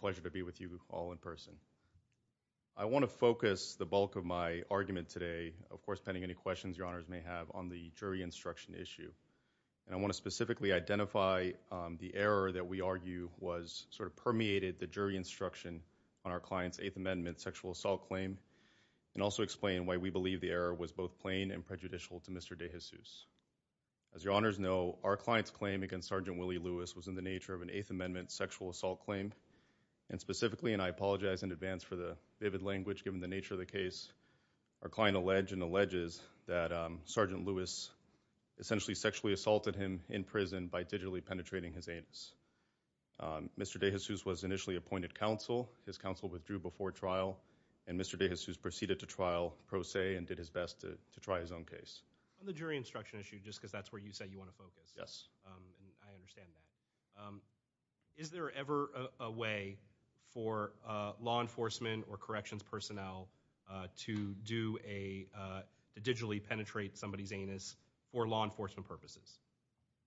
Pleasure to be with you all in person. I want to focus the bulk of my argument today, of course, pending any questions your honors may have on the jury instruction issue, and I want to specifically identify the error that we argue was sort of permeated the jury instruction on our client's Eighth Amendment sexual assault claim, and also explain why we believe the error was both plain and prejudicial to Mr. DeJesus. As your honors know, our client's claim against Sergeant Willie Lewis was in the nature of And specifically, and I apologize in advance for the vivid language given the nature of the case, our client allege and alleges that Sergeant Lewis essentially sexually assaulted him in prison by digitally penetrating his anus. Mr. DeJesus was initially appointed counsel. His counsel withdrew before trial, and Mr. DeJesus proceeded to trial pro se and did his best to try his own case. On the jury instruction issue, just because that's where you said you want to focus, I understand that. Is there ever a way for law enforcement or corrections personnel to do a, to digitally penetrate somebody's anus for law enforcement purposes?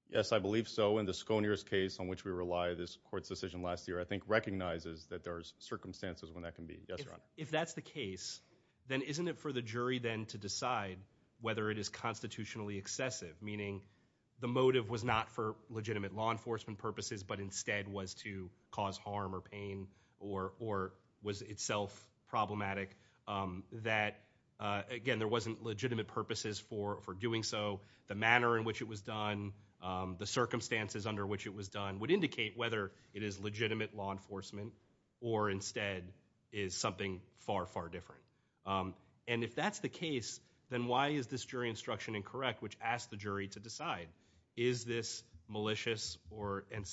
Yes, I believe so, and the Sconia's case on which we rely, this court's decision last year I think recognizes that there's circumstances when that can be, yes your honor. If that's the case, then isn't it for the jury then to decide whether it is constitutionally excessive, meaning the motive was not for legitimate law enforcement purposes, but instead was to cause harm or pain, or was itself problematic, that again there wasn't legitimate purposes for doing so. The manner in which it was done, the circumstances under which it was done would indicate whether it is legitimate law enforcement, or instead is something far, far different. And if that's the case, then why is this jury instruction incorrect, which asks the jury to decide, is this malicious or, and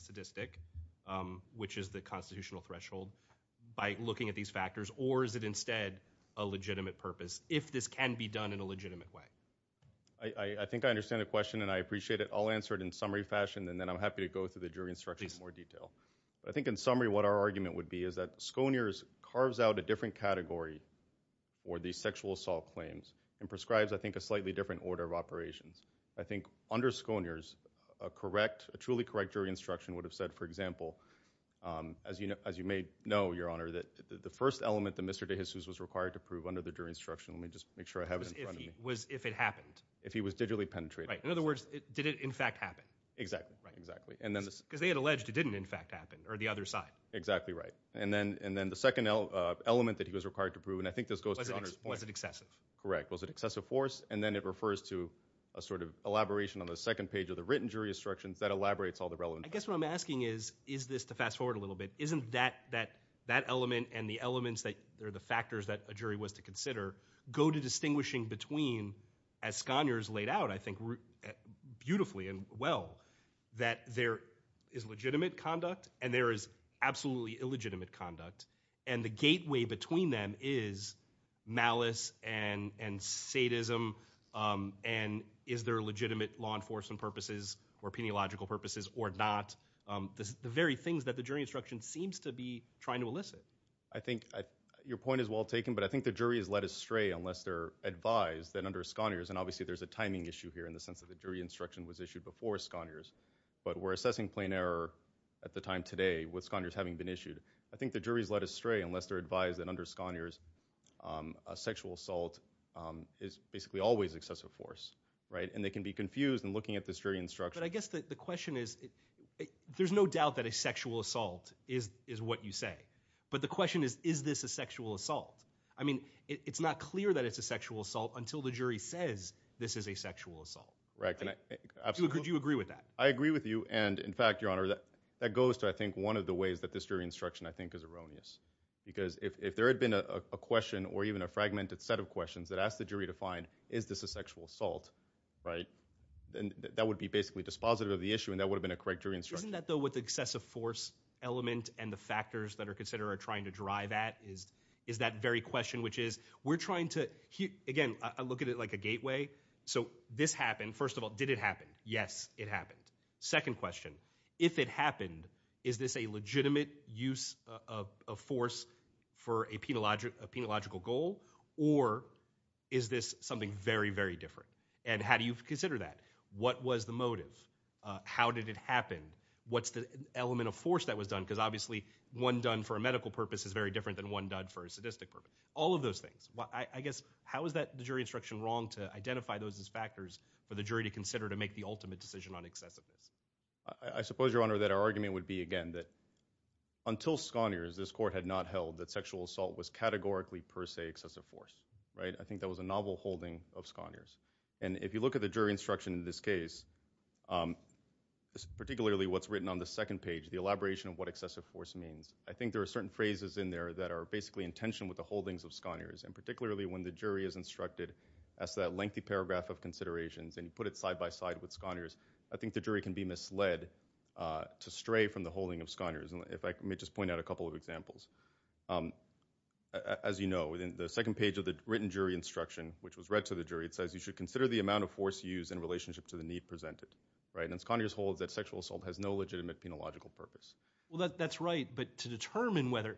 sadistic, which is the constitutional threshold, by looking at these factors, or is it instead a legitimate purpose, if this can be done in a legitimate way? I think I understand the question, and I appreciate it. I'll answer it in summary fashion, and then I'm happy to go through the jury instruction in more detail. I think in summary what our argument would be is that Sconier's carves out a different category for these sexual assault claims, and prescribes I think a slightly different order of operations. I think under Sconier's, a correct, a truly correct jury instruction would have said, for example, as you may know your honor, that the first element that Mr. DeJesus was required to prove under the jury instruction, let me just make sure I have it in front of me. Was if it happened. If he was digitally penetrated. Right, in other words, did it in fact happen. Exactly, exactly. Because they had alleged it didn't in fact happen, or the other side. Exactly right. And then the second element that he was required to prove, and I think this goes to your honor's point. Was it excessive? Correct. Was it excessive force? And then it refers to a sort of elaboration on the second page of the written jury instructions that elaborates all the relevant. I guess what I'm asking is, is this, to fast forward a little bit, isn't that element and the elements that are the factors that a jury was to consider, go to distinguishing between, as Scania's laid out, I think beautifully and well, that there is legitimate conduct and there is absolutely illegitimate conduct. And the gateway between them is malice and sadism, and is there legitimate law enforcement purposes or peniological purposes or not. The very things that the jury instruction seems to be trying to elicit. I think your point is well taken, but I think the jury has led us astray unless they're advised that under Scania's, and obviously there's a timing issue here in the sense that the jury instruction was issued before Scania's, but we're assessing plain error at the time today with Scania's having been issued. I think the jury's led astray unless they're advised that under Scania's a sexual assault is basically always excessive force, right, and they can be confused in looking at this jury instruction. But I guess the question is, there's no doubt that a sexual assault is what you say, but the question is, is this a sexual assault? I mean, it's not clear that it's a sexual assault until the jury says this is a sexual assault. Right, absolutely. Do you agree with that? I agree with you, and in fact, your honor, that goes to I think one of the ways that this jury instruction I think is erroneous, because if there had been a question or even a fragmented set of questions that asked the jury to find, is this a sexual assault, right, then that would be basically dispositive of the issue and that would have been a correct jury instruction. Isn't that though what the excessive force element and the factors that are considered are trying to drive at is that very question, which is, we're trying to, again, I look at it like a gateway. So this happened, first of all, did it happen? Yes, it happened. Second question, if it happened, is this a legitimate use of force for a penological goal or is this something very, very different? And how do you consider that? What was the motive? How did it happen? What's the element of force that was done, because obviously one done for a medical purpose is very different than one done for a sadistic purpose. All of those things. I guess, how is that, the jury instruction, wrong to identify those as factors for the jury to consider to make the ultimate decision on excessiveness? I suppose, your honor, that our argument would be, again, that until Sconiers, this court had not held that sexual assault was categorically per se excessive force, right? I think that was a novel holding of Sconiers. And if you look at the jury instruction in this case, particularly what's written on the second page, the elaboration of what excessive force means, I think there are certain phrases in there that are basically in tension with the holdings of Sconiers, and particularly when the jury is instructed as to that lengthy paragraph of considerations and you put it side by side with Sconiers, I think the jury can be misled to stray from the holding of Sconiers. And if I may just point out a couple of examples. As you know, in the second page of the written jury instruction, which was read to the jury, it says, you should consider the amount of force used in relationship to the need presented. Right? And Sconiers holds that sexual assault has no legitimate penological purpose. Well, that's right. But to determine whether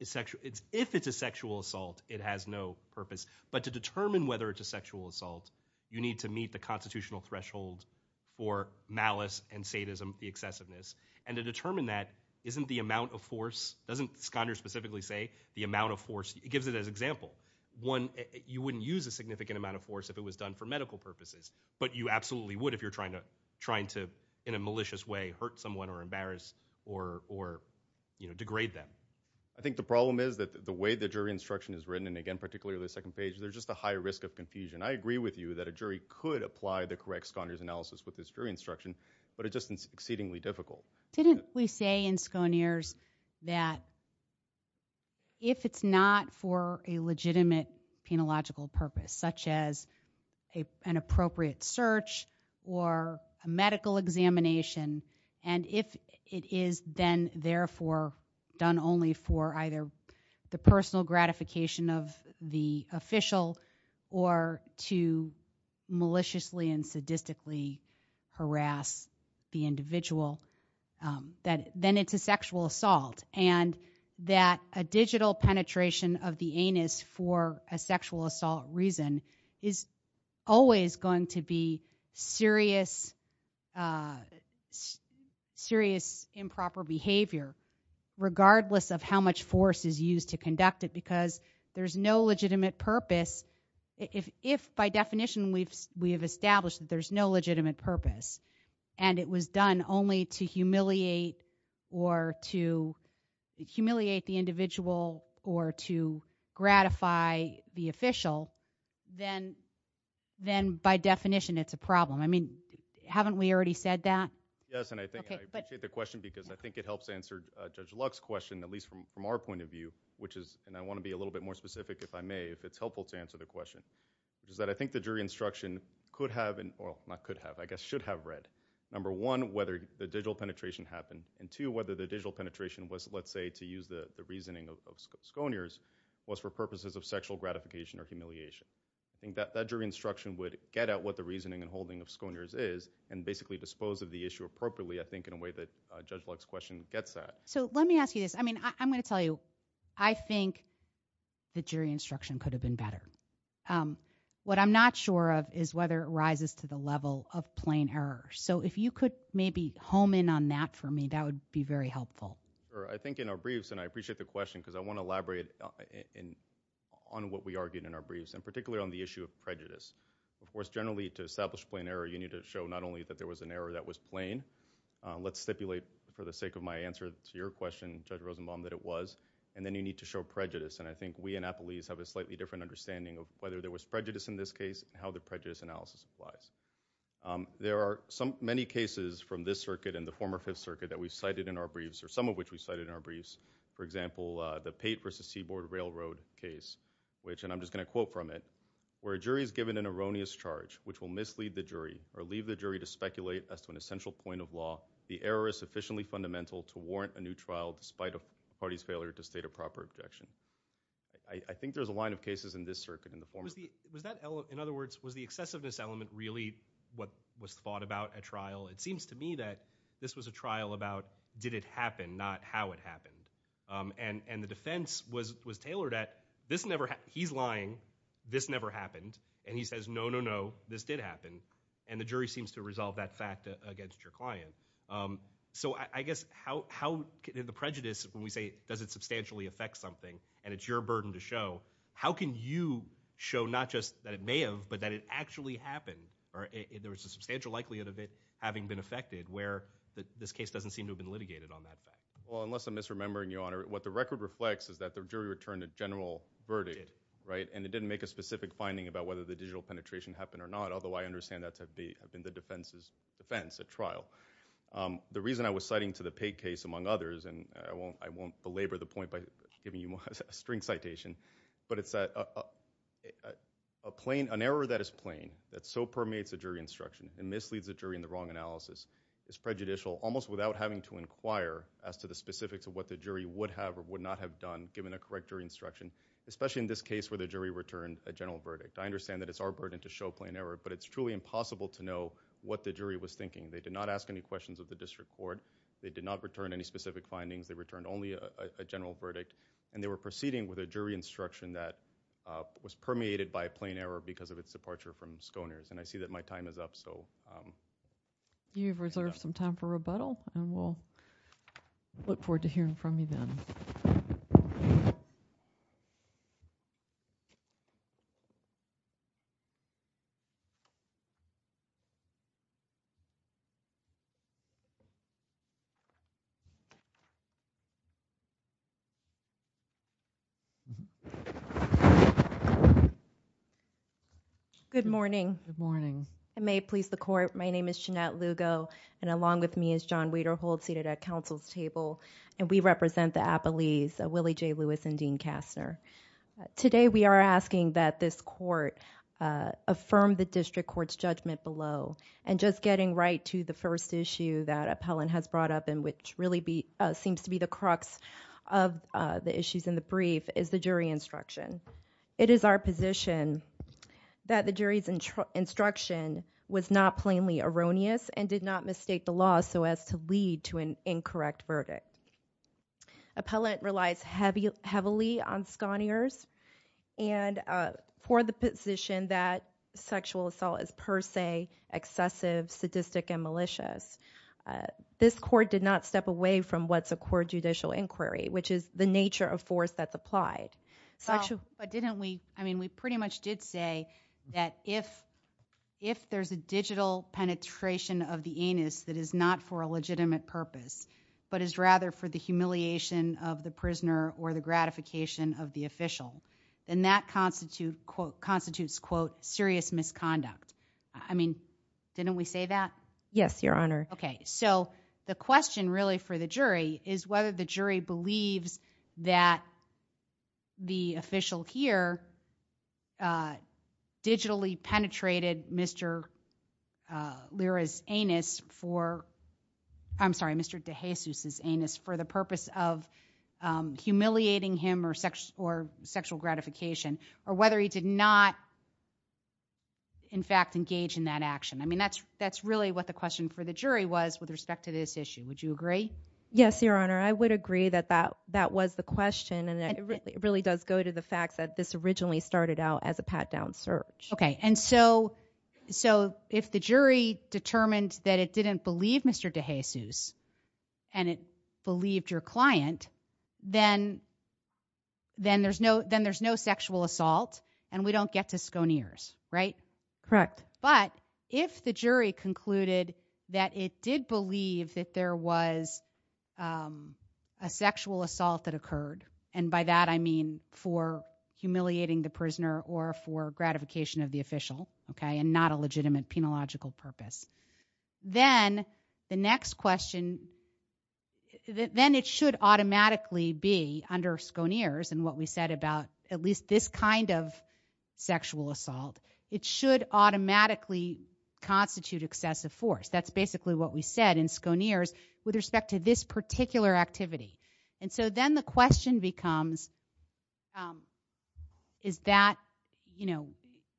it's sexual, if it's a sexual assault, it has no purpose. But to determine whether it's a sexual assault, you need to meet the constitutional threshold for malice and sadism, the excessiveness. And to determine that, isn't the amount of force, doesn't Sconiers specifically say, the amount of force? It gives it as example. One, you wouldn't use a significant amount of force if it was done for medical purposes. But you absolutely would if you're trying to, in a malicious way, hurt someone or embarrass or degrade them. I think the problem is that the way the jury instruction is written, and again, particularly the second page, there's just a high risk of confusion. I agree with you that a jury could apply the correct Sconiers analysis with this jury instruction, but it's just exceedingly difficult. Didn't we say in Sconiers that if it's not for a legitimate penological purpose, such as an appropriate search or a medical examination, and if it is then, therefore, done only for either the personal gratification of the official or to maliciously and sadistically harass the individual, then it's a sexual assault. And that a digital penetration of the anus for a sexual assault reason is always going to be serious improper behavior, regardless of how much force is used to conduct it. Because there's no legitimate purpose, if by definition we have established that there's no legitimate purpose, and it was done only to humiliate or to humiliate the individual or to gratify the official, then by definition it's a problem. I mean, haven't we already said that? Yes, and I think I appreciate the question because I think it helps answer Judge Luck's question, at least from our point of view, which is, and I want to be a little bit more specific if I may, if it's helpful to answer the question, is that I think the jury instruction could have, or not could have, I guess should have read, number one, whether the digital penetration happened, and two, whether the digital penetration was, let's say, to use the reasoning of Sconiers, was for purposes of sexual gratification or humiliation. I think that jury instruction would get at what the reasoning and holding of Sconiers is and basically dispose of the issue appropriately, I think, in a way that Judge Luck's question gets at. So let me ask you this. I mean, I'm going to tell you, I think the jury instruction could have been better. What I'm not sure of is whether it rises to the level of plain error. So if you could maybe home in on that for me, that would be very helpful. I think in our briefs, and I appreciate the question because I want to elaborate on what we argued in our briefs, and particularly on the issue of prejudice. Of course, generally, to establish plain error, you need to show not only that there was an error that was plain, let's stipulate for the sake of my answer to your question, Judge Rosenbaum, that it was, and then you need to show prejudice, and I think we in Appleese have a slightly different understanding of whether there was prejudice in this case and how the prejudice analysis applies. There are many cases from this circuit and the former Fifth Circuit that we cited in our briefs, or some of which we cited in our briefs, for example, the Pate v. Seaboard Railroad case, which, and I'm just going to quote from it, where a jury is given an erroneous charge which will mislead the jury or leave the jury to speculate as to an essential point of law, the error is sufficiently fundamental to warrant a new trial despite a party's failure to state a proper objection. I think there's a line of cases in this circuit in the form of that. Was that, in other words, was the excessiveness element really what was thought about at trial? It seems to me that this was a trial about did it happen, not how it happened. And the defense was tailored at this never, he's lying, this never happened, and he says no, no, no, this did happen, and the jury seems to resolve that fact against your client. So I guess how, in the prejudice, when we say does it substantially affect something and it's your burden to show, how can you show not just that it may have, but that it actually happened, or there was a substantial likelihood of it having been affected where this case doesn't seem to have been litigated on that fact? Well, unless I'm misremembering, Your Honor, what the record reflects is that the jury returned a general verdict, right, and it didn't make a specific finding about whether the digital penetration happened or not, although I understand that to have been the defense's The reason I was citing to the Pegg case, among others, and I won't belabor the point by giving you a string citation, but it's that an error that is plain, that so permeates a jury instruction and misleads the jury in the wrong analysis, is prejudicial almost without having to inquire as to the specifics of what the jury would have or would not have done given a correct jury instruction, especially in this case where the jury returned a general verdict. I understand that it's our burden to show plain error, but it's truly impossible to know what the jury was thinking. They did not ask any questions of the district court, they did not return any specific findings, they returned only a general verdict, and they were proceeding with a jury instruction that was permeated by a plain error because of its departure from Schoeners, and I see that my time is up, so... You've reserved some time for rebuttal, and we'll look forward to hearing from you then. Good morning. Good morning. I may please the court, my name is Jeanette Lugo, and along with me is John Waderholt seated at counsel's table, and we represent the appellees, Willie J. Lewis and Dean Kastner. Today we are asking that this court affirm the district court's judgment below, and just getting right to the first issue that appellant has brought up and which really seems to be the crux of the issues in the brief is the jury instruction. It is our position that the jury's instruction was not plainly erroneous and did not mistake the law so as to lead to an incorrect verdict. Appellant relies heavily on Schoeners, and for the position that sexual assault is per sensive, sadistic, and malicious, this court did not step away from what's a core judicial inquiry, which is the nature of force that's applied. But didn't we... I mean, we pretty much did say that if there's a digital penetration of the anus that is not for a legitimate purpose, but is rather for the humiliation of the prisoner or the gratification of the official, then that constitutes, quote, serious misconduct. I mean, didn't we say that? Yes, Your Honor. Okay. So, the question really for the jury is whether the jury believes that the official here digitally penetrated Mr. Lira's anus for... I'm sorry, Mr. DeJesus' anus for the purpose of humiliating him or sexual gratification, or whether he did not, in fact, engage in that action. I mean, that's really what the question for the jury was with respect to this issue. Would you agree? Yes, Your Honor. I would agree that that was the question, and it really does go to the fact that this originally started out as a pat-down search. Okay. And so, if the jury determined that it didn't believe Mr. DeJesus and it believed your client, then there's no sexual assault, and we don't get to sconeers, right? Correct. But, if the jury concluded that it did believe that there was a sexual assault that occurred, and by that I mean for humiliating the prisoner or for gratification of the official, okay, and not a legitimate, penological purpose, then the next question... then it should automatically be, under sconeers and what we said about at least this kind of sexual assault, it should automatically constitute excessive force. That's basically what we said in sconeers with respect to this particular activity. And so, then the question becomes, is that, you know,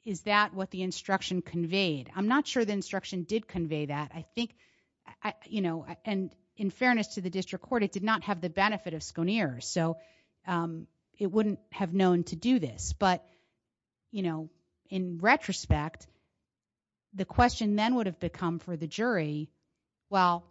is that what the instruction conveyed? I'm not sure the instruction did convey that. I think, you know, and in fairness to the district court, it did not have the benefit of sconeers, so it wouldn't have known to do this. But, you know, in retrospect, the question then would have become for the jury, well,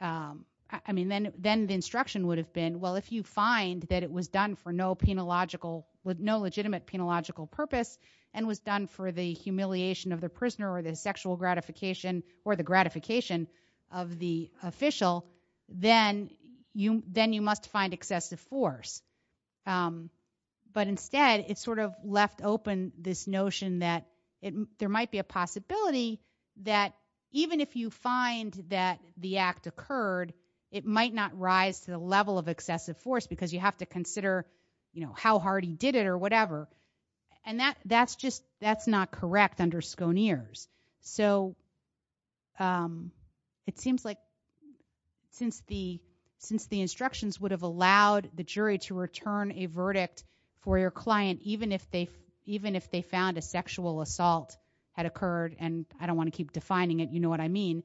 I mean, then the instruction would have been, well, if you find that it was done for no penological... with no legitimate, penological purpose, and was done for the humiliation of the prisoner or the sexual gratification or the gratification of the official, then you must find excessive force. But instead, it sort of left open this notion that there might be a possibility that even if you find that the act occurred, it might not rise to the level of excessive force because you have to consider, you know, how hard he did it or whatever. And that's just, that's not correct under sconeers. So it seems like since the instructions would have allowed the jury to return a verdict for your client even if they found a sexual assault had occurred, and I don't want to keep defining it, you know what I mean,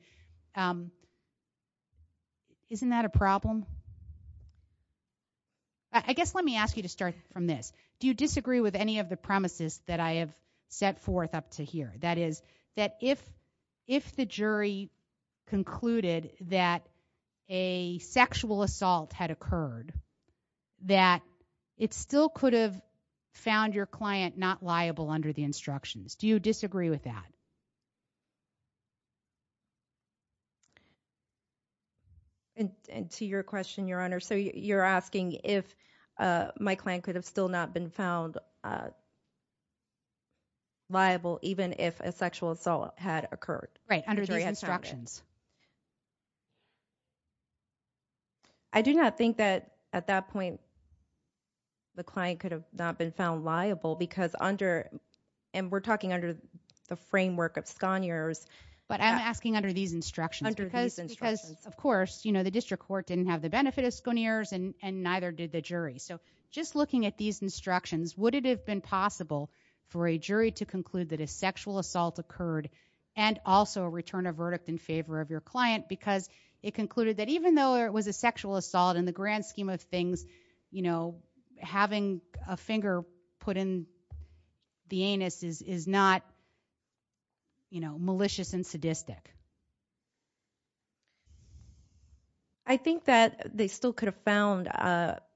isn't that a problem? I guess let me ask you to start from this. Do you disagree with any of the premises that I have set forth up to here? That is, that if, if the jury concluded that a sexual assault had occurred, that it still could have found your client not liable under the instructions. Do you disagree with that? And, and to your question, Your Honor, so you're asking if my client could have still not been found liable even if a sexual assault had occurred. Right, under these instructions. I do not think that at that point the client could have not been found liable because under, and we're talking under the framework of sconeers. But I'm asking under these instructions. Under these instructions. Because, because of course, you know, the district court didn't have the benefit of sconeers and neither did the jury. So just looking at these instructions, would it have been possible for a jury to conclude that a sexual assault occurred and also return a verdict in favor of your client? Because it concluded that even though it was a sexual assault, in the grand scheme of things, you know, having a finger put in the anus is, is not, you know, malicious and sadistic. I think that they still could have found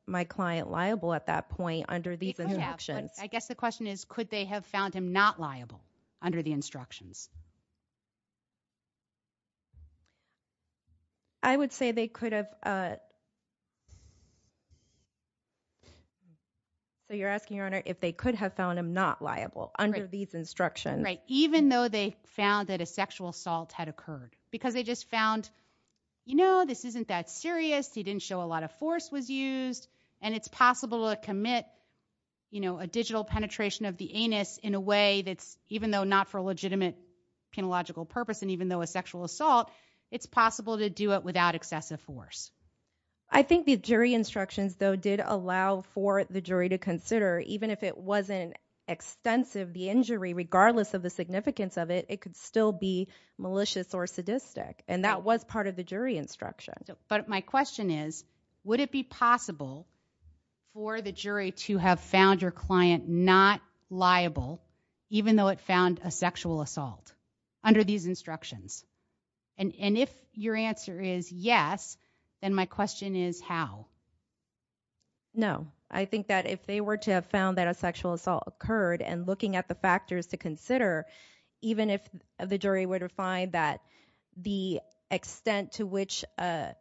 my client liable at that point under these instructions. I guess the question is, could they have found him not liable under the instructions? I would say they could have, so you're asking, Your Honor, if they could have found him not liable under these instructions. Right. Even though they found that a sexual assault had occurred. Because they just found, you know, this isn't that serious. He didn't show a lot of force was used. And it's possible to commit, you know, a digital penetration of the anus in a way that's, even though not for a legitimate penological purpose, and even though a sexual assault, it's possible to do it without excessive force. I think the jury instructions, though, did allow for the jury to consider, even if it regardless of the significance of it, it could still be malicious or sadistic. And that was part of the jury instruction. But my question is, would it be possible for the jury to have found your client not liable, even though it found a sexual assault under these instructions? And if your answer is yes, then my question is how? No, I think that if they were to have found that a sexual assault occurred and looking at the factors to consider, even if the jury were to find that the extent to which the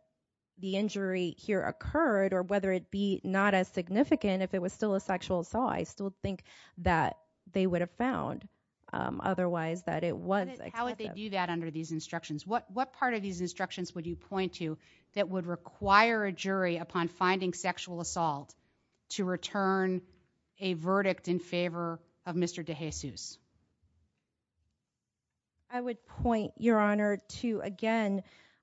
injury here occurred, or whether it be not as significant, if it was still a sexual assault, I still think that they would have found, otherwise, that it was excessive. How would they do that under these instructions? What part of these instructions would you point to that would require a jury, upon finding sexual assault, to return a verdict in favor of Mr. DeJesus? I would point, Your Honor, to, again,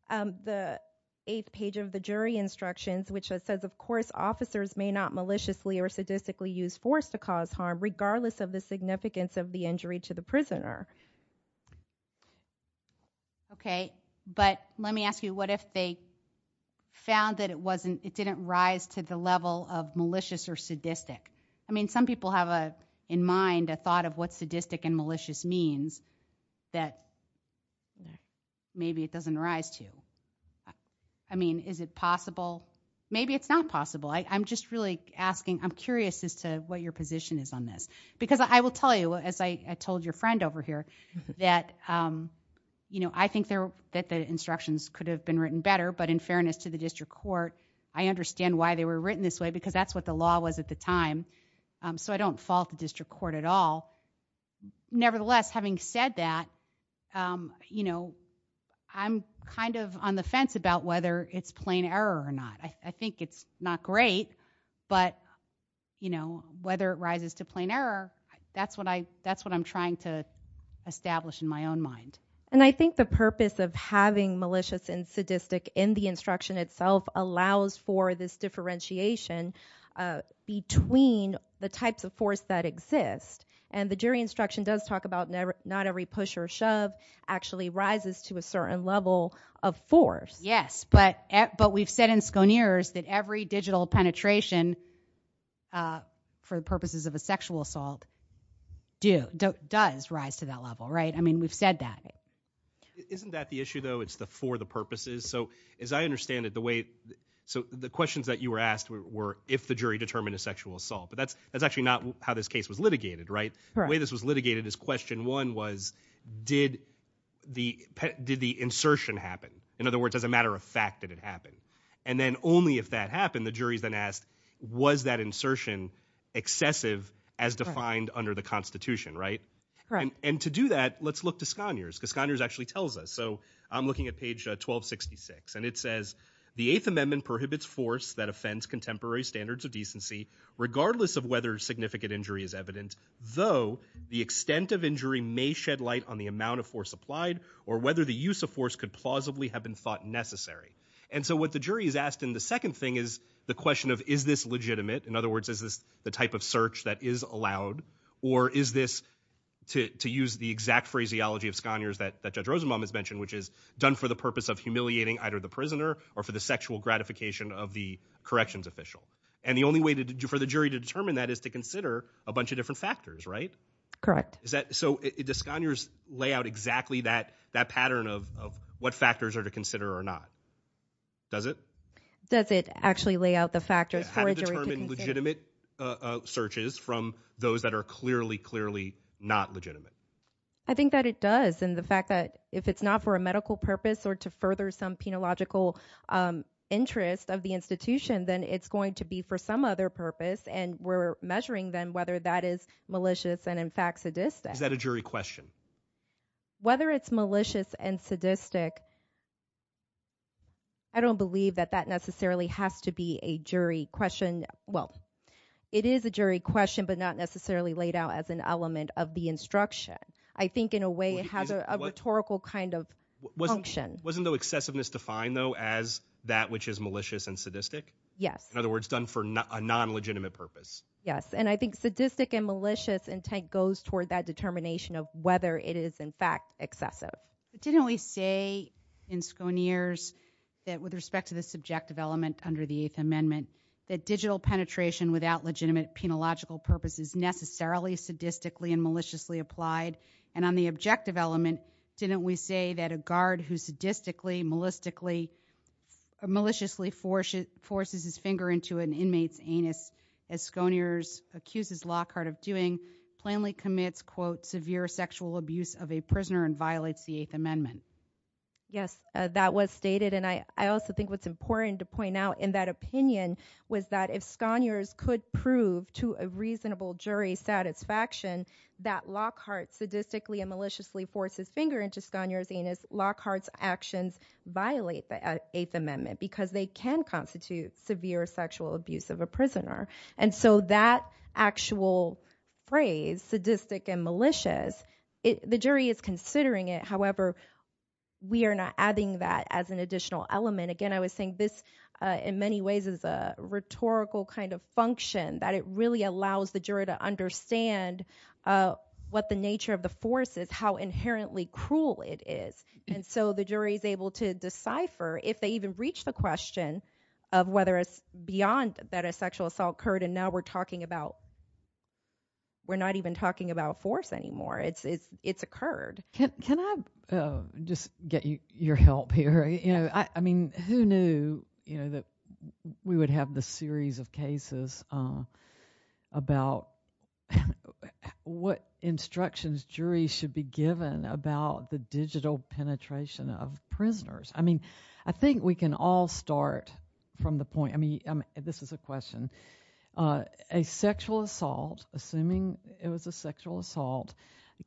the eighth page of the jury instructions, which says, of course, officers may not maliciously or sadistically use force to cause harm, regardless of the significance of the injury to the prisoner. Okay, but let me ask you, what if they found that it didn't rise to the level of malicious or sadistic? I mean, some people have in mind a thought of what sadistic and malicious means that maybe it doesn't rise to. I mean, is it possible? Maybe it's not possible. I'm just really asking, I'm curious as to what your position is on this. Because I will tell you, as I told your friend over here, that I think that the instructions could have been written better, but in fairness to the district court, I understand why they were written this way, because that's what the law was at the time. So I don't fault the district court at all. Nevertheless, having said that, I'm kind of on the fence about whether it's plain error or not. I think it's not great, but whether it rises to plain error, that's what I'm trying to establish in my own mind. And I think the purpose of having malicious and sadistic in the instruction itself allows for this differentiation between the types of force that exist. And the jury instruction does talk about not every push or shove actually rises to a certain level of force. Yes, but we've said in Sconeers that every digital penetration for the purposes of a sexual assault does rise to that level, right? I mean, we've said that. Isn't that the issue, though? It's the for the purposes? So as I understand it, the way, so the questions that you were asked were if the jury determined a sexual assault. But that's actually not how this case was litigated, right? The way this was litigated is question one was, did the insertion happen? In other words, as a matter of fact, did it happen? And then only if that happened, the jury's then asked, was that insertion excessive as defined under the Constitution, right? And to do that, let's look to Sconeers, because Sconeers actually tells us. So I'm looking at page 1266, and it says, the Eighth Amendment prohibits force that offends contemporary standards of decency, regardless of whether significant injury is evident, though the extent of injury may shed light on the amount of force applied or whether the use of force could plausibly have been thought necessary. And so what the jury is asked in the second thing is the question of, is this legitimate? In other words, is this the type of search that is allowed? Or is this, to use the exact phraseology of Sconeers that Judge Rosenbaum has mentioned, which is done for the purpose of humiliating either the prisoner or for the sexual gratification of the corrections official. And the only way for the jury to determine that is to consider a bunch of different factors, right? Correct. So does Sconeers lay out exactly that pattern of what factors are to consider or not? Does it? Does it actually lay out the factors for a jury to consider? How do you determine legitimate searches from those that are clearly, clearly not legitimate? I think that it does, and the fact that if it's not for a medical purpose or to further some penological interest of the institution, then it's going to be for some other purpose, and we're measuring then whether that is malicious and in fact sadistic. Is that a jury question? Whether it's malicious and sadistic, I don't believe that that necessarily has to be a jury question. Well, it is a jury question, but not necessarily laid out as an element of the instruction. I think in a way it has a rhetorical kind of function. Wasn't though excessiveness defined though as that which is malicious and sadistic? Yes. In other words, done for a non-legitimate purpose. Yes, and I think sadistic and malicious intent goes toward that determination of whether it is in fact excessive. But didn't we say in Sconeers that with respect to the subjective element under the Eighth Amendment, that digital penetration without legitimate penological purpose is necessarily sadistically and maliciously applied, and on the objective element, didn't we say that a guard who sadistically, maliciously forces his finger into an inmate's anus, as Sconeers accuses Lockhart of doing, plainly commits, quote, severe sexual abuse of a prisoner and violates the Eighth Amendment? Yes, that was stated, and I also think what's important to point out in that opinion was that if Sconeers could prove to a reasonable jury satisfaction that Lockhart sadistically and maliciously forced his finger into Sconeers' anus, Lockhart's actions violate the Eighth Amendment because they can constitute severe sexual abuse of a prisoner. And so that actual phrase, sadistic and malicious, the jury is considering it, however, we are not adding that as an additional element. Again, I was saying this in many ways is a rhetorical kind of function, that it really allows the jury to understand what the nature of the force is, how inherently cruel it is. And so the jury is able to decipher, if they even reach the question of whether it's beyond that a sexual assault occurred, and now we're talking about, we're not even talking about force anymore, it's occurred. Can I just get your help here? I mean, who knew that we would have this series of cases about what instructions juries should be given about the digital penetration of prisoners? I mean, I think we can all start from the point, I mean, this is a question, a sexual assault, assuming it was a sexual assault,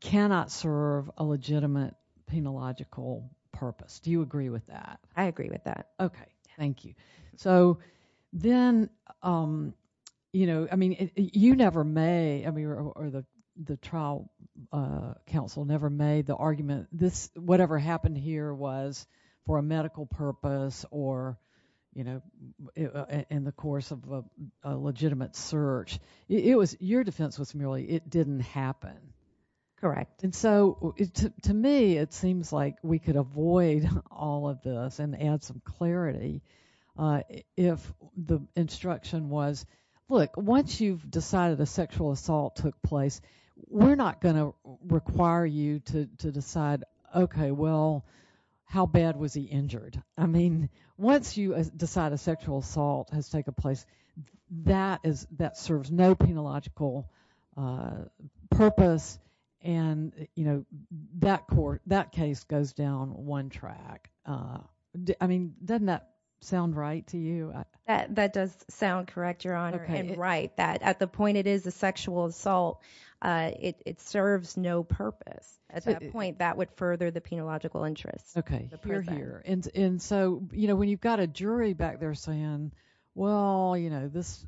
cannot serve a legitimate penological purpose. Do you agree with that? I agree with that. Okay. Thank you. So then, you know, I mean, you never may, or the trial counsel never made the argument, this, whatever happened here was for a medical purpose or, you know, in the course of a legitimate search. It was, your defense was merely, it didn't happen. Correct. And so, to me, it seems like we could avoid all of this and add some clarity if the instruction was, look, once you've decided a sexual assault took place, we're not going to require you to decide, okay, well, how bad was he injured? I mean, once you decide a sexual assault has taken place, that is, that serves no penological purpose, and, you know, that court, that case goes down one track. I mean, doesn't that sound right to you? That does sound correct, Your Honor, and right. At the point it is a sexual assault, it serves no purpose. At that point, that would further the penological interest. Okay. You're here. And so, you know, when you've got a jury back there saying, well, you know, this,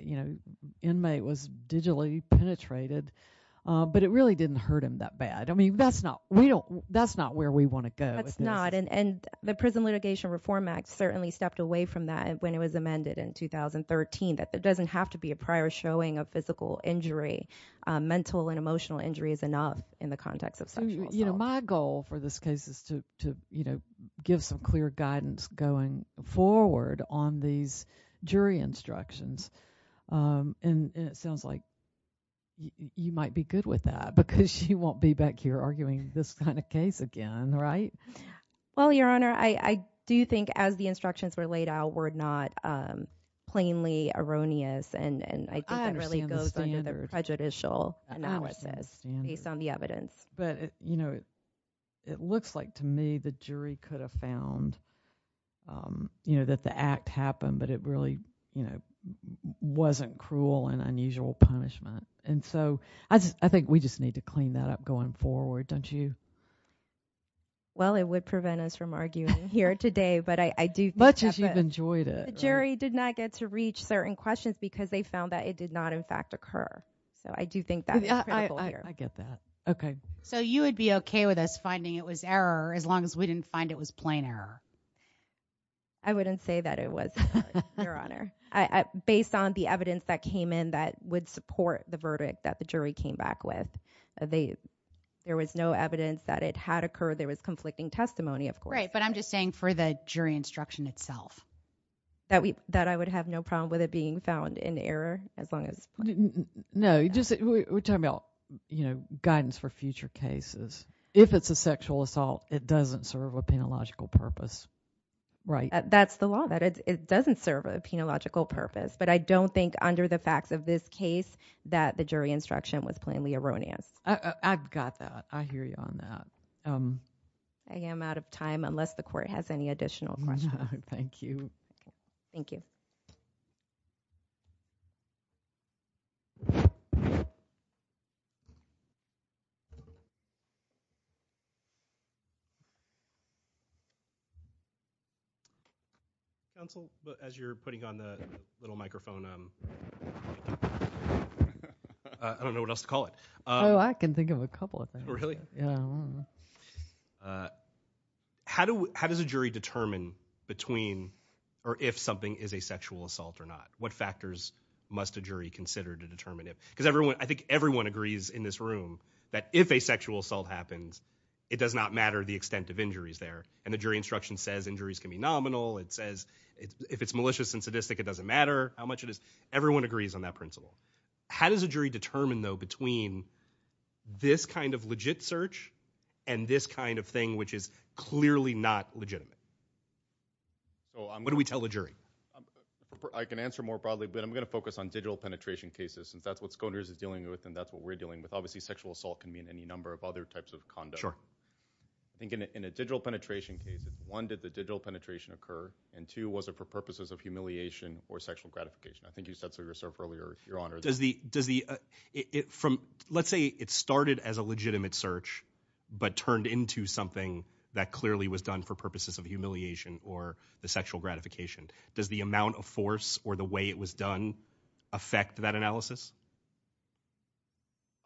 you know, inmate was digitally penetrated, but it really didn't hurt him that bad. I mean, that's not, we don't, that's not where we want to go with this. That's not, and the Prison Litigation Reform Act certainly stepped away from that when it was amended in 2013, that it doesn't have to be a prior showing of physical injury. Mental and emotional injury is enough in the context of sexual assault. You know, my goal for this case is to, you know, give some clear guidance going forward on these jury instructions. And it sounds like you might be good with that because she won't be back here arguing this kind of case again, right? Well, Your Honor, I do think as the instructions were laid out, were not plainly erroneous and I think it really goes under the prejudicial analysis based on the evidence. I understand the standard. Yes, but, you know, it looks like to me the jury could have found, you know, that the act happened, but it really, you know, wasn't cruel and unusual punishment. And so, I think we just need to clean that up going forward, don't you? Well, it would prevent us from arguing here today, but I do think that the jury did not get to reach certain questions because they found that it did not in fact occur. So, I do think that's critical here. I get that. Okay. So, you would be okay with us finding it was error as long as we didn't find it was plain error? I wouldn't say that it was, Your Honor, based on the evidence that came in that would support the verdict that the jury came back with. There was no evidence that it had occurred. There was conflicting testimony, of course. Right, but I'm just saying for the jury instruction itself. That I would have no problem with it being found in error as long as it's plain error. No, we're talking about, you know, guidance for future cases. If it's a sexual assault, it doesn't serve a penological purpose, right? That's the law. It doesn't serve a penological purpose, but I don't think under the facts of this case that the jury instruction was plainly erroneous. I've got that. I hear you on that. I am out of time unless the Court has any additional questions. Thank you. Thank you. Counsel, as you're putting on the little microphone, I don't know what else to call it. Oh, I can think of a couple of things. Really? Yeah. I don't know. How does a jury determine between or if something is a sexual assault or not? What factors must a jury consider to determine it? Because I think everyone agrees in this room that if a sexual assault happens, it does not matter the extent of injuries there. And the jury instruction says injuries can be nominal. It says if it's malicious and sadistic, it doesn't matter how much it is. Everyone agrees on that principle. How does a jury determine, though, between this kind of legit search and this kind of thing which is clearly not legitimate? What do we tell the jury? I can answer more broadly, but I'm going to focus on digital penetration cases since that's what SCOTUS is dealing with and that's what we're dealing with. Obviously, sexual assault can mean any number of other types of conduct. Sure. I think in a digital penetration case, one, did the digital penetration occur, and two, was it for purposes of humiliation or sexual gratification? I think you said so yourself earlier, Your Honor, that— Let's say it started as a legitimate search but turned into something that clearly was done for purposes of humiliation or the sexual gratification. Does the amount of force or the way it was done affect that analysis?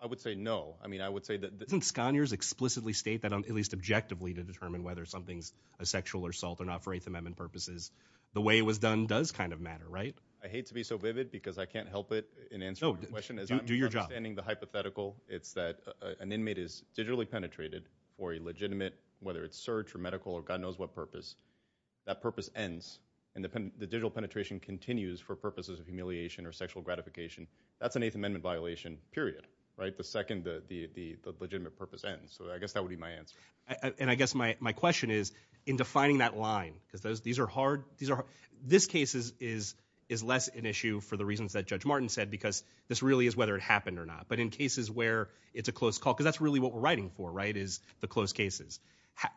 I would say no. I mean, I would say that— Doesn't Scaniers explicitly state that, at least objectively, to determine whether something's a sexual assault or not for Eighth Amendment purposes? The way it was done does kind of matter, right? I hate to be so vivid because I can't help it in answering your question. No, do your job. As I'm understanding the hypothetical, it's that an inmate is digitally penetrated or a legitimate, whether it's search or medical or God knows what purpose, that purpose ends, and the digital penetration continues for purposes of humiliation or sexual gratification. That's an Eighth Amendment violation, period, right? The second the legitimate purpose ends, so I guess that would be my answer. And I guess my question is, in defining that line, because these are hard— This case is less an issue for the reasons that Judge Martin said, because this really is whether it happened or not. But in cases where it's a close call, because that's really what we're writing for, right, is the close cases,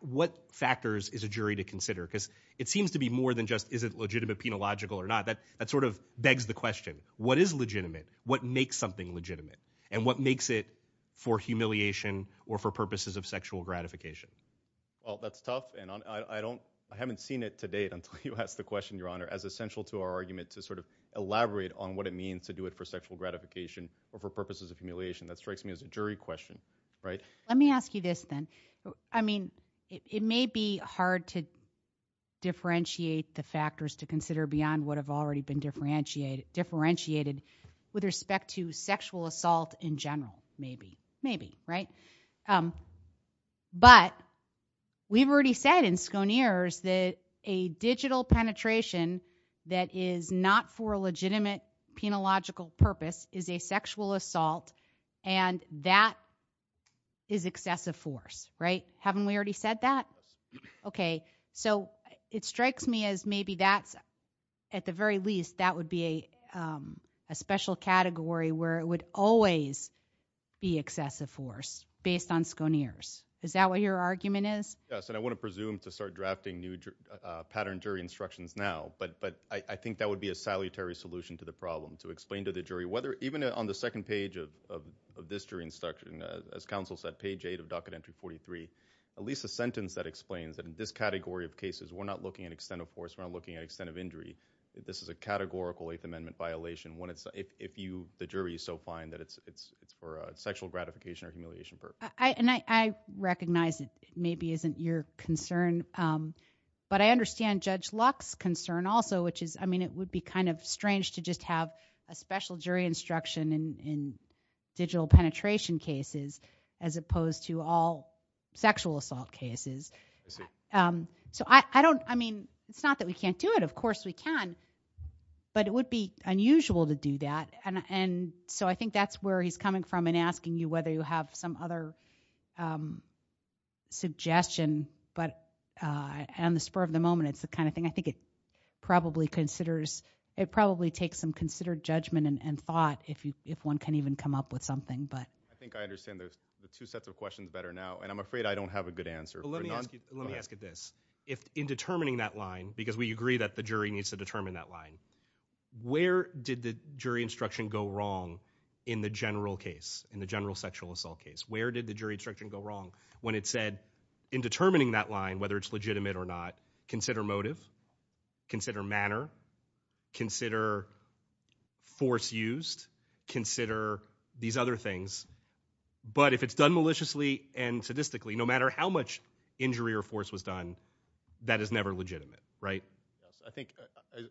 what factors is a jury to consider? Because it seems to be more than just is it legitimate, penological, or not. That sort of begs the question, what is legitimate? What makes something legitimate? And what makes it for humiliation or for purposes of sexual gratification? Well, that's tough, and I don't—I haven't seen it to date until you asked the question, Your Honor, as essential to our argument to sort of elaborate on what it means to do it for sexual gratification or for purposes of humiliation. That strikes me as a jury question, right? Let me ask you this, then. I mean, it may be hard to differentiate the factors to consider beyond what have already been differentiated with respect to sexual assault in general, maybe, maybe, right? But we've already said in Sconeers that a digital penetration that is not for a legitimate penological purpose is a sexual assault, and that is excessive force, right? Haven't we already said that? Okay, so it strikes me as maybe that's—at the very least, that would be a special category where it would always be excessive force based on Sconeers. Is that what your argument is? Yes, and I wouldn't presume to start drafting new pattern jury instructions now, but I think that would be a salutary solution to the problem, to explain to the jury whether—even on the second page of this jury instruction, as counsel said, page 8 of Docket Entry 43, at least a sentence that explains that in this category of cases, we're not looking at extent of force, we're not looking at extent of injury. This is a categorical Eighth Amendment violation when it's—if you, the jury, so find that it's for a sexual gratification or humiliation purpose. And I recognize it maybe isn't your concern, but I understand Judge Luck's concern also, I mean, it would be kind of strange to just have a special jury instruction in digital penetration cases as opposed to all sexual assault cases. So I don't—I mean, it's not that we can't do it. Of course we can, but it would be unusual to do that, and so I think that's where he's coming from in asking you whether you have some other suggestion, but on the spur of the moment, it's the kind of thing I think it probably considers—it probably takes some considered judgment and thought if you—if one can even come up with something, but— I think I understand the two sets of questions better now, and I'm afraid I don't have a good answer. But let me ask you—let me ask you this. If, in determining that line, because we agree that the jury needs to determine that line, where did the jury instruction go wrong in the general case, in the general sexual assault case? Where did the jury instruction go wrong when it said, in determining that line, whether it's legitimate or not, consider motive, consider manner, consider force used, consider these other things. But if it's done maliciously and sadistically, no matter how much injury or force was done, that is never legitimate, right? Yes. I think,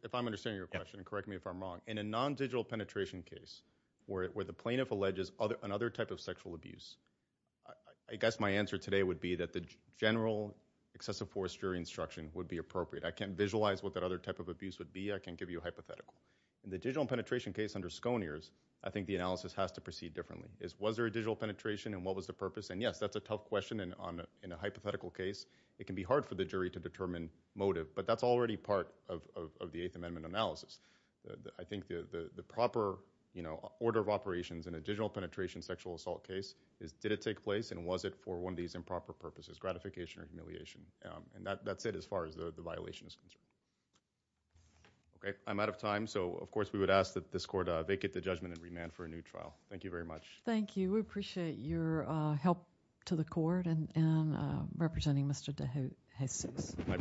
if I'm understanding your question, and correct me if I'm wrong, in a non-digital penetration case where the plaintiff alleges another type of sexual abuse, I guess my answer today would be that the general excessive force jury instruction would be appropriate. I can't visualize what that other type of abuse would be. I can't give you a hypothetical. In the digital penetration case under Sconears, I think the analysis has to proceed differently. Was there a digital penetration, and what was the purpose? And yes, that's a tough question in a hypothetical case. It can be hard for the jury to determine motive, but that's already part of the Eighth Amendment analysis. I think the proper order of operations in a digital penetration sexual assault case is, did it take place, and was it for one of these improper purposes, gratification or humiliation? And that's it as far as the violation is concerned. Okay, I'm out of time. So, of course, we would ask that this court vacate the judgment and remand for a new trial. Thank you very much. Thank you. We appreciate your help to the court and representing Mr. DeJesus. My pleasure.